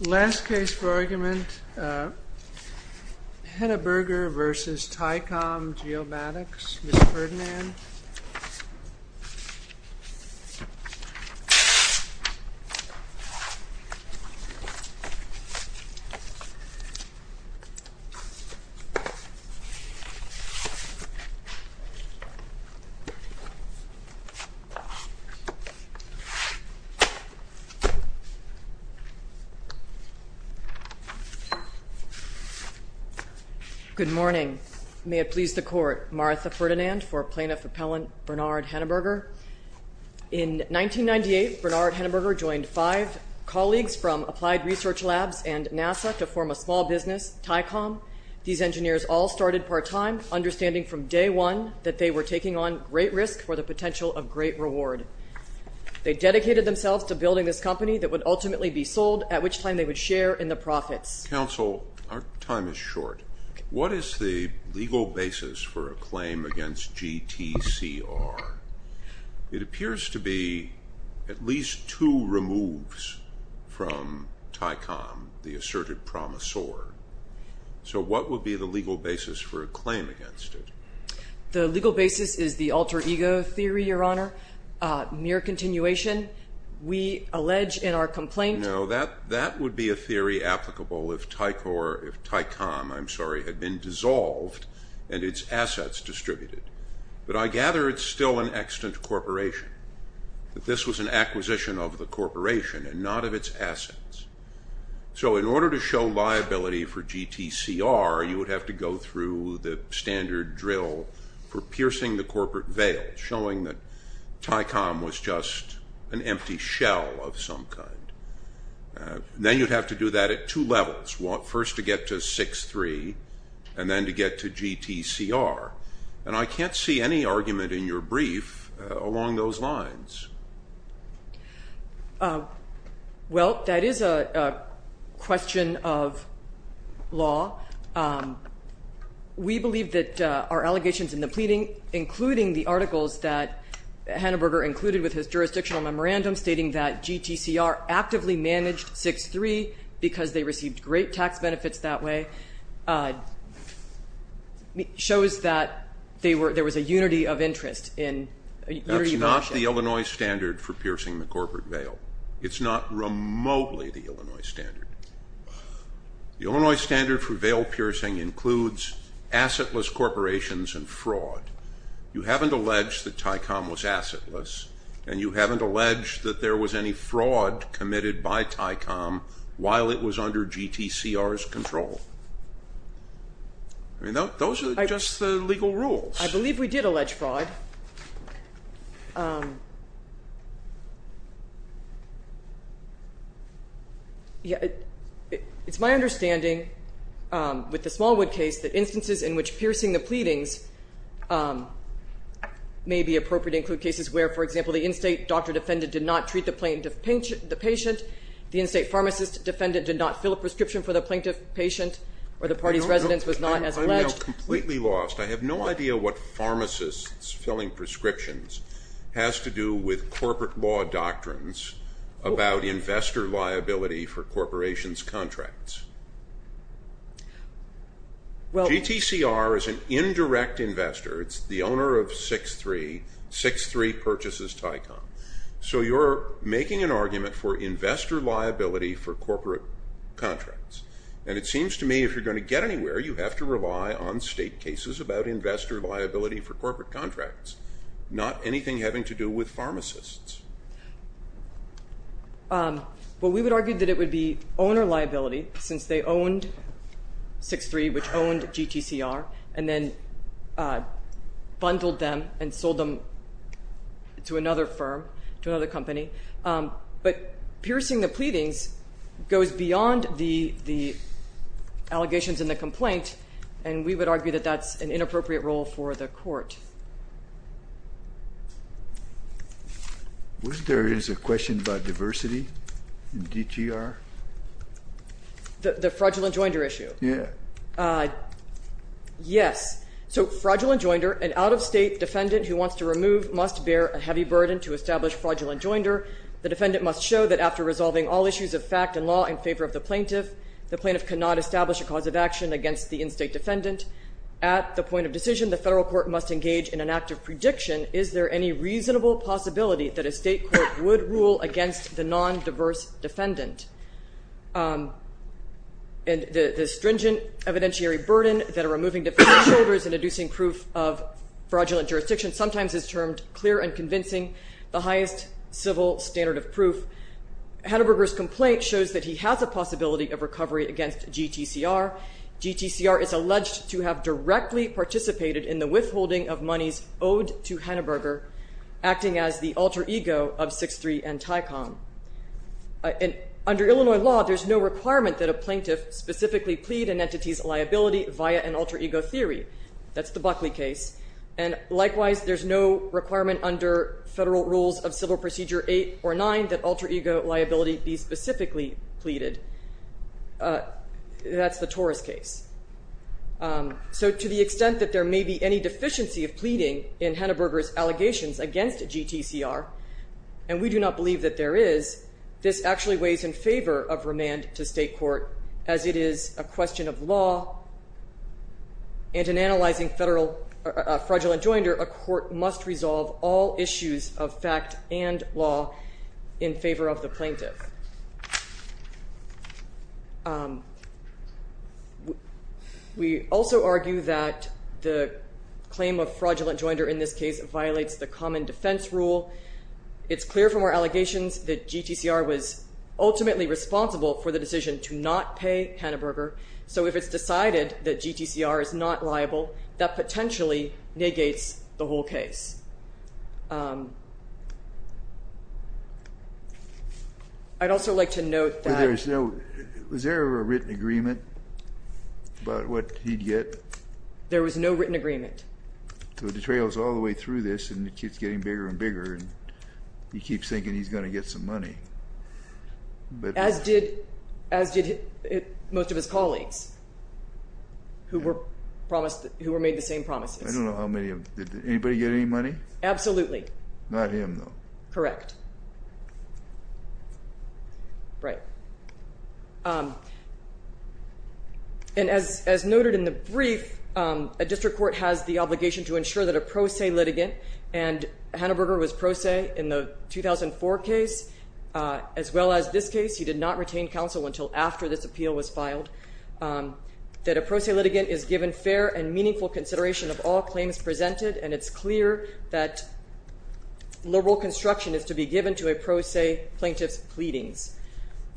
Last case for argument, Henneberger v. Ticom Geomatics, Ms. Ferdinand. Good morning. May it please the Court, Martha Ferdinand for Plaintiff Appellant Bernard Henneberger. In 1998, Bernard Henneberger joined five colleagues from Applied Research Labs and NASA to form a small business, Ticom. These engineers all started part-time, understanding from day one that they were taking on great risk for the potential of great reward. They dedicated themselves to building this company that would ultimately be sold, at which time they would share in the profits. Counsel, our time is short. What is the legal basis for a claim against GTCR? It appears to be at least two removes from Ticom, the asserted promisor. So what would be the legal basis for a claim against it? The legal basis is the alter ego theory, Your Honor. Mere continuation, we allege in our complaint... No, that would be a theory applicable if Ticom had been dissolved and its assets distributed. But I gather it's still an extant corporation, that this was an acquisition of the corporation and not of its assets. So in order to show liability for GTCR, you would have to go through the standard drill for piercing the corporate veil, showing that Ticom was just an empty shell of some kind. Then you'd have to do that at two levels, first to get to 6-3, and then to get to GTCR. And I can't see any argument in your brief along those lines. Well, that is a question of law. We believe that our allegations in the pleading, including the articles that Hanneberger included with his jurisdictional memorandum, stating that GTCR actively managed 6-3 because they received great tax benefits that way, shows that there was a unity of interest. That's not the Illinois standard for piercing the corporate veil. It's not remotely the Illinois standard. The Illinois standard for veil piercing includes assetless corporations and fraud. You haven't alleged that Ticom was assetless, and you haven't alleged that there was any fraud committed by Ticom while it was under GTCR's control. I mean, those are just the legal rules. I believe we did allege fraud. It's my understanding with the Smallwood case that instances in which piercing the pleadings may be appropriate to include cases where, for example, the in-state doctor defendant did not treat the plaintiff patient, the in-state pharmacist defendant did not fill a prescription for the plaintiff patient, or the party's residence was not as alleged. I'm now completely lost. I have no idea what pharmacists filling prescriptions has to do with corporate law doctrines about investor liability for corporations' contracts. GTCR is an indirect investor. It's the owner of 63, 63 purchases Ticom. So you're making an argument for investor liability for corporate contracts. And it seems to me if you're going to get anywhere, you have to rely on state cases about investor liability for corporate contracts, not anything having to do with pharmacists. Well, we would argue that it would be owner liability since they owned 63, which owned GTCR and then bundled them and sold them to another firm, to another company. But piercing the pleadings goes beyond the allegations in the complaint, and we would argue that that's an inappropriate role for the court. Wasn't there a question about diversity in GTR? The fraudulent joinder issue? Yeah. Yes. So fraudulent joinder, an out-of-state defendant who wants to remove, must bear a heavy burden to establish fraudulent joinder. The defendant must show that after resolving all issues of fact and law in favor of the plaintiff, the plaintiff cannot establish a cause of action against the in-state defendant. At the point of decision, the federal court must engage in an active prediction. Is there any reasonable possibility that a state court would rule against the non-diverse defendant? And the stringent evidentiary burden that are removing defendant's shoulders and inducing proof of fraudulent jurisdiction sometimes is termed clear and convincing, the highest civil standard of proof. Haneberger's complaint shows that he has a possibility of recovery against GTCR. GTCR is alleged to have directly participated in the withholding of monies owed to Haneberger, acting as the alter ego of 6-3 and Tycom. Under Illinois law, there's no requirement that a plaintiff specifically plead an entity's liability via an alter ego theory. That's the Buckley case. And likewise, there's no requirement under federal rules of Civil Procedure 8 or 9 that alter ego liability be specifically pleaded. That's the Torres case. So to the extent that there may be any deficiency of pleading in Haneberger's allegations against GTCR, and we do not believe that there is, this actually weighs in favor of remand to state court, as it is a question of law, and in analyzing federal fraudulent joinder, a court must resolve all issues of fact and law in favor of the plaintiff. We also argue that the claim of fraudulent joinder in this case violates the common defense rule. It's clear from our allegations that GTCR was ultimately responsible for the decision to not pay Haneberger. So if it's decided that GTCR is not liable, that potentially negates the whole case. I'd also like to note that... Was there ever a written agreement about what he'd get? There was no written agreement. So it detrails all the way through this, and it keeps getting bigger and bigger, and he keeps thinking he's going to get some money. As did most of his colleagues who were made the same promises. I don't know how many. Did anybody get any money? Absolutely. Not him, though. Correct. Right. And as noted in the brief, a district court has the obligation to ensure that a pro se litigant, and Haneberger was pro se in the 2004 case, as well as this case. He did not retain counsel until after this appeal was filed, that a pro se litigant is given fair and meaningful consideration of all claims presented, and it's clear that liberal construction is to be given to a pro se plaintiff's pleadings.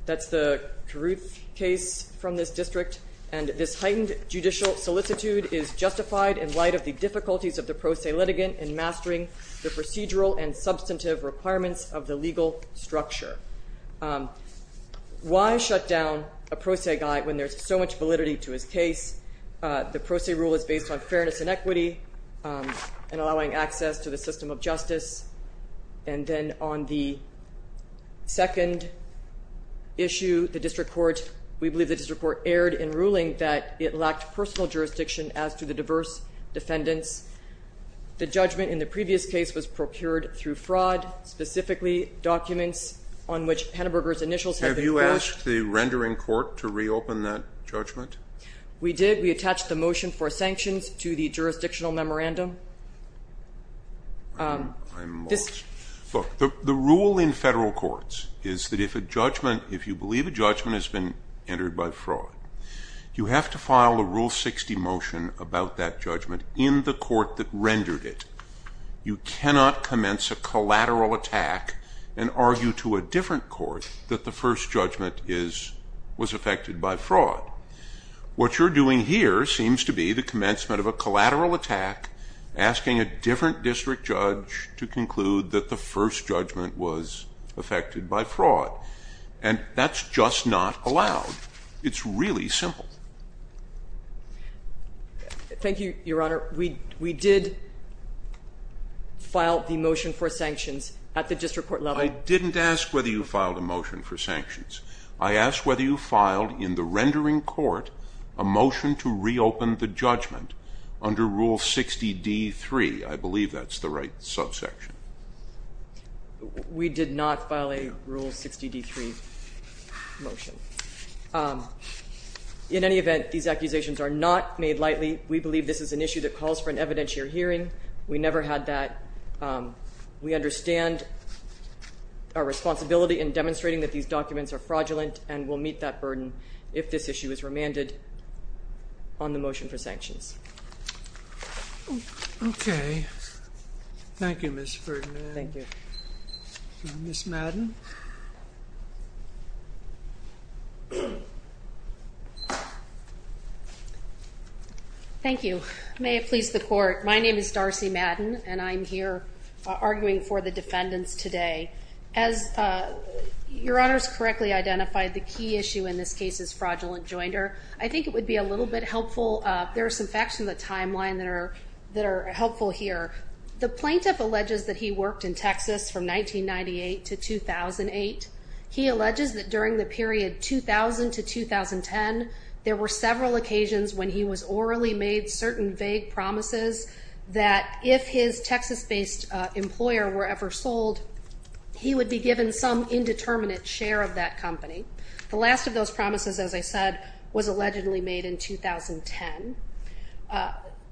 That's the Carruth case from this district, and this heightened judicial solicitude is justified in light of the difficulties of the pro se litigant in mastering the procedural and substantive requirements of the legal structure. Why shut down a pro se guy when there's so much validity to his case? The pro se rule is based on fairness and equity and allowing access to the system of justice. And then on the second issue, the district court, we believe the district court erred in ruling that it lacked personal jurisdiction as to the diverse defendants. The judgment in the previous case was procured through fraud, specifically documents on which Haneberger's initials have been quashed. Have you asked the rendering court to reopen that judgment? We did. We attached the motion for sanctions to the jurisdictional memorandum. I'm lost. Look, the rule in federal courts is that if you believe a judgment has been entered by fraud, you have to file a Rule 60 motion about that judgment in the court that rendered it. You cannot commence a collateral attack and argue to a different court that the first judgment was affected by fraud. What you're doing here seems to be the commencement of a collateral attack, asking a different district judge to conclude that the first judgment was affected by fraud. And that's just not allowed. It's really simple. Thank you, Your Honor. We did file the motion for sanctions at the district court level. I didn't ask whether you filed a motion for sanctions. I asked whether you filed in the rendering court a motion to reopen the judgment under Rule 60d-3. I believe that's the right subsection. We did not file a Rule 60d-3 motion. In any event, these accusations are not made lightly. We believe this is an issue that calls for an evidentiary hearing. We never had that. We understand our responsibility in demonstrating that these documents are fraudulent and will meet that burden if this issue is remanded on the motion for sanctions. Okay. Thank you, Ms. Ferdinand. Thank you. Ms. Madden. Thank you. May it please the court. My name is Darcy Madden, and I'm here arguing for the defendants today. As Your Honors correctly identified, the key issue in this case is fraudulent joinder. I think it would be a little bit helpful. There are some facts in the timeline that are helpful here. The plaintiff alleges that he worked in Texas from 1998 to 2008. He alleges that during the period 2000 to 2010, there were several occasions when he was orally made certain vague promises that if his Texas-based employer were ever sold, he would be given some indeterminate share of that company. The last of those promises, as I said, was allegedly made in 2010.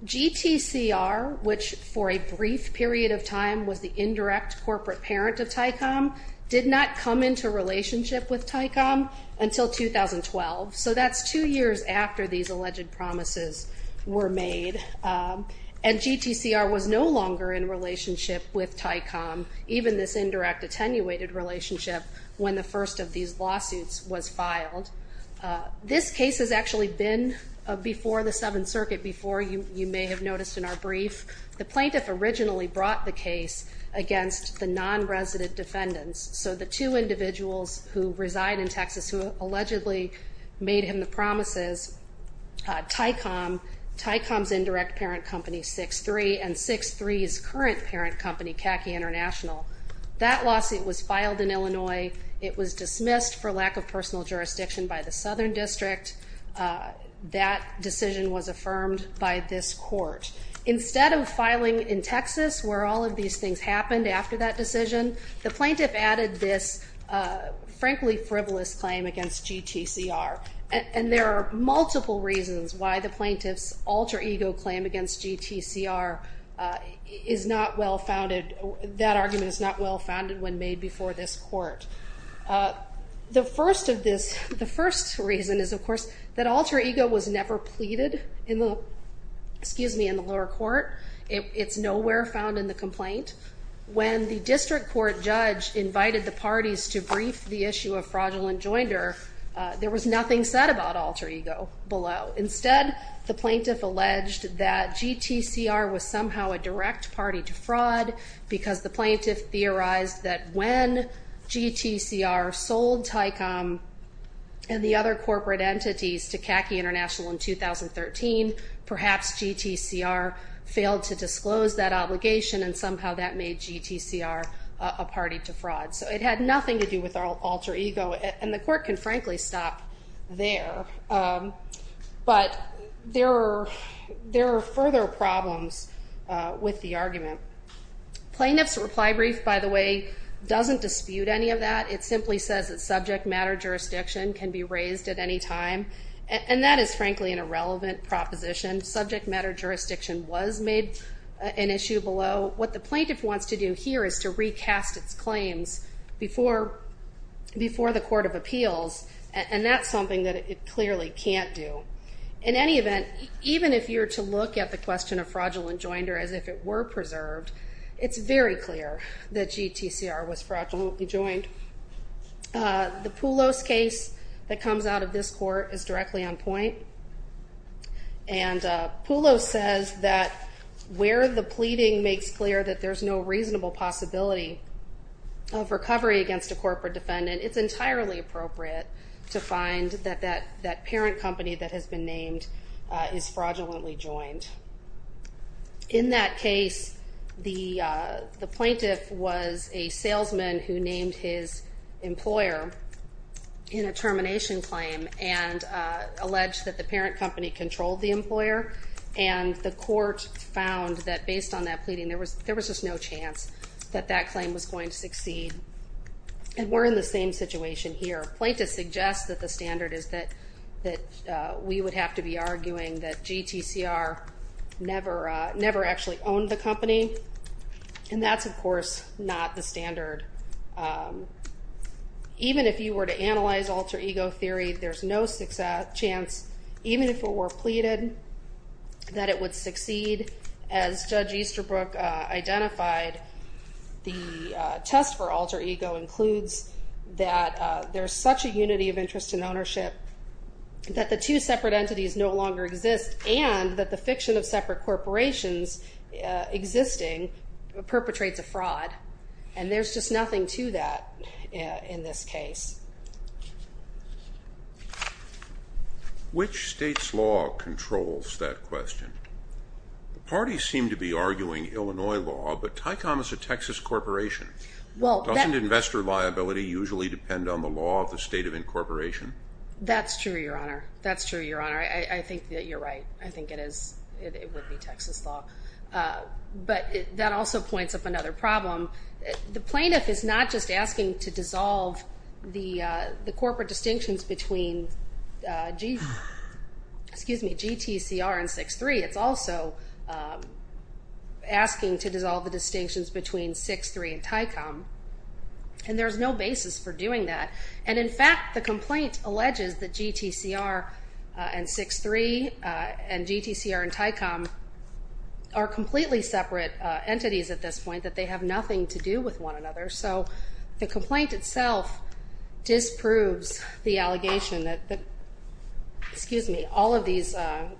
GTCR, which for a brief period of time was the indirect corporate parent of Tycom, did not come into relationship with Tycom until 2012. So that's two years after these alleged promises were made. And GTCR was no longer in relationship with Tycom, even this indirect attenuated relationship when the first of these lawsuits was filed. This case has actually been before the Seventh Circuit before, you may have noticed in our brief. The plaintiff originally brought the case against the non-resident defendants, so the two individuals who reside in Texas who allegedly made him the promises, Tycom, Tycom's indirect parent company, 6-3, and 6-3's current parent company, Khaki International. That lawsuit was filed in Illinois. It was dismissed for lack of personal jurisdiction by the Southern District. That decision was affirmed by this court. Instead of filing in Texas where all of these things happened after that decision, the plaintiff added this frankly frivolous claim against GTCR. And there are multiple reasons why the plaintiff's alter ego claim against GTCR is not well founded. That argument is not well founded when made before this court. The first reason is, of course, that alter ego was never pleaded in the lower court. It's nowhere found in the complaint. When the district court judge invited the parties to brief the issue of fraudulent joinder, there was nothing said about alter ego below. Instead, the plaintiff alleged that GTCR was somehow a direct party to fraud because the plaintiff theorized that when GTCR sold Tycom and the other corporate entities to Khaki International in 2013, perhaps GTCR failed to disclose that obligation and somehow that made GTCR a party to fraud. So it had nothing to do with alter ego. And the court can frankly stop there. But there are further problems with the argument. Plaintiff's reply brief, by the way, doesn't dispute any of that. It simply says that subject matter jurisdiction can be raised at any time. And that is frankly an irrelevant proposition. Subject matter jurisdiction was made an issue below. What the plaintiff wants to do here is to recast its claims before the court of appeals, and that's something that it clearly can't do. In any event, even if you were to look at the question of fraudulent joinder as if it were preserved, it's very clear that GTCR was fraudulently joined. The Poulos case that comes out of this court is directly on point. And Poulos says that where the pleading makes clear that there's no reasonable possibility of recovery against a corporate defendant, it's entirely appropriate to find that that parent company that has been named is fraudulently joined. In that case, the plaintiff was a salesman who named his employer in a termination claim and alleged that the parent company controlled the employer, and the court found that based on that pleading there was just no chance that that claim was going to succeed. And we're in the same situation here. The plaintiff suggests that the standard is that we would have to be arguing that GTCR never actually owned the company, and that's, of course, not the standard. Even if you were to analyze alter ego theory, there's no chance, even if it were pleaded, that it would succeed. As Judge Easterbrook identified, the test for alter ego includes that there's such a unity of interest in ownership that the two separate entities no longer exist and that the fiction of separate corporations existing perpetrates a fraud. And there's just nothing to that in this case. Which state's law controls that question? The parties seem to be arguing Illinois law, but Tycom is a Texas corporation. Doesn't investor liability usually depend on the law of the state of incorporation? That's true, Your Honor. That's true, Your Honor. I think that you're right. I think it is. It would be Texas law. But that also points up another problem. The plaintiff is not just asking to dissolve the corporate distinctions between GTCR and 6.3. It's also asking to dissolve the distinctions between 6.3 and Tycom. And there's no basis for doing that. And in fact, the complaint alleges that GTCR and 6.3 and GTCR and Tycom are completely separate entities at this point, that they have nothing to do with one another. So the complaint itself disproves the allegation that all of these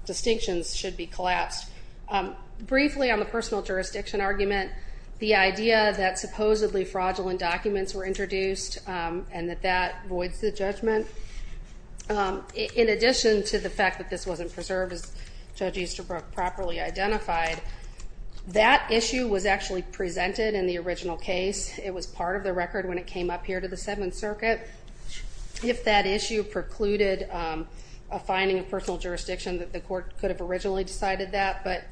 distinctions should be collapsed. Briefly, on the personal jurisdiction argument, the idea that supposedly fraudulent documents were introduced and that that voids the judgment, in addition to the fact that this wasn't preserved as Judge Easterbrook properly identified, that issue was actually presented in the original case. It was part of the record when it came up here to the Seventh Circuit. If that issue precluded a finding of personal jurisdiction, the court could have originally decided that. But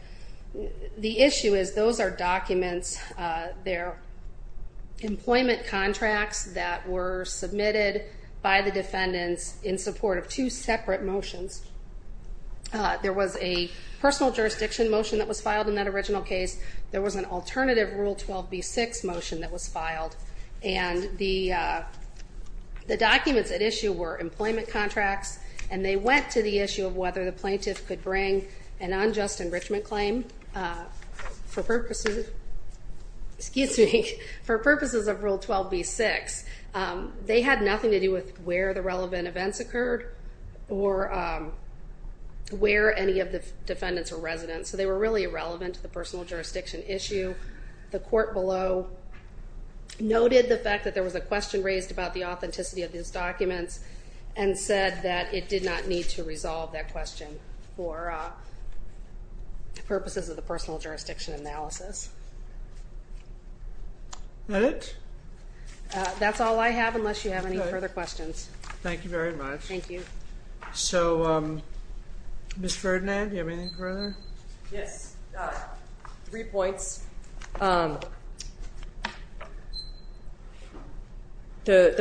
the issue is those are documents. They're employment contracts that were submitted by the defendants in support of two separate motions. There was a personal jurisdiction motion that was filed in that original case. There was an alternative Rule 12b-6 motion that was filed. And the documents at issue were employment contracts, and they went to the issue of whether the plaintiff could bring an unjust enrichment claim for purposes of Rule 12b-6. They had nothing to do with where the relevant events occurred or where any of the defendants were residents. So they were really irrelevant to the personal jurisdiction issue. The court below noted the fact that there was a question raised about the authenticity of these documents and said that it did not need to resolve that question for purposes of the personal jurisdiction analysis. Is that it? That's all I have unless you have any further questions. Thank you very much. Thank you. So, Ms. Ferdinand, do you have anything further? Yes. Three points. The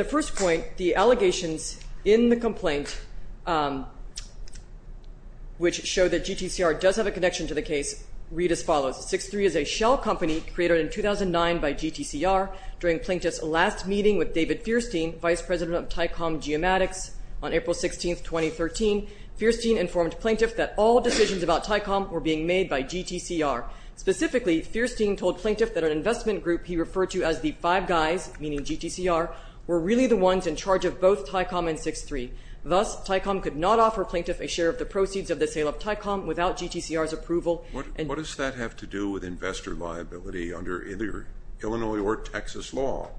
first point, the allegations in the complaint, which show that GTCR does have a connection to the case, read as follows. 6-3 is a shell company created in 2009 by GTCR. During Plaintiff's last meeting with David Feirstein, Vice President of Tycom Geomatics, on April 16, 2013, Feirstein informed Plaintiff that all decisions about Tycom were being made by GTCR. Specifically, Feirstein told Plaintiff that an investment group he referred to as the Five Guys, meaning GTCR, were really the ones in charge of both Tycom and 6-3. Thus, Tycom could not offer Plaintiff a share of the proceeds of the sale of Tycom without GTCR's approval. What does that have to do with investor liability under either Illinois or Texas law?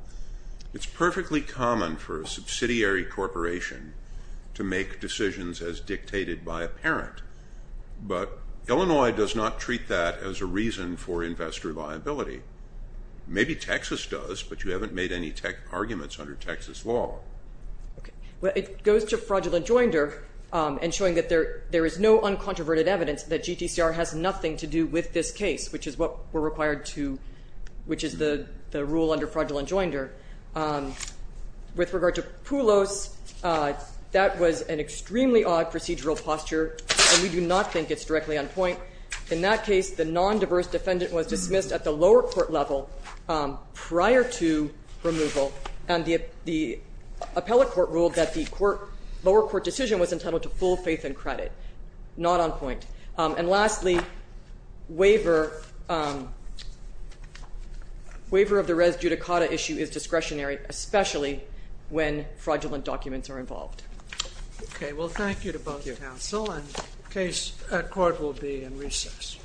It's perfectly common for a subsidiary corporation to make decisions as dictated by a parent, but Illinois does not treat that as a reason for investor liability. Maybe Texas does, but you haven't made any arguments under Texas law. It goes to fraudulent joinder and showing that there is no uncontroverted evidence that GTCR has nothing to do with this case, which is what we're required to, which is the rule under fraudulent joinder. With regard to Poulos, that was an extremely odd procedural posture, and we do not think it's directly on point. In that case, the non-diverse defendant was dismissed at the lower court level prior to removal, and the appellate court ruled that the lower court decision was entitled to full faith and credit. Not on point. And lastly, waiver of the res judicata issue is discretionary, especially when fraudulent documents are involved. Okay. Well, thank you to both the counsel, and the case at court will be in recess. Thank you.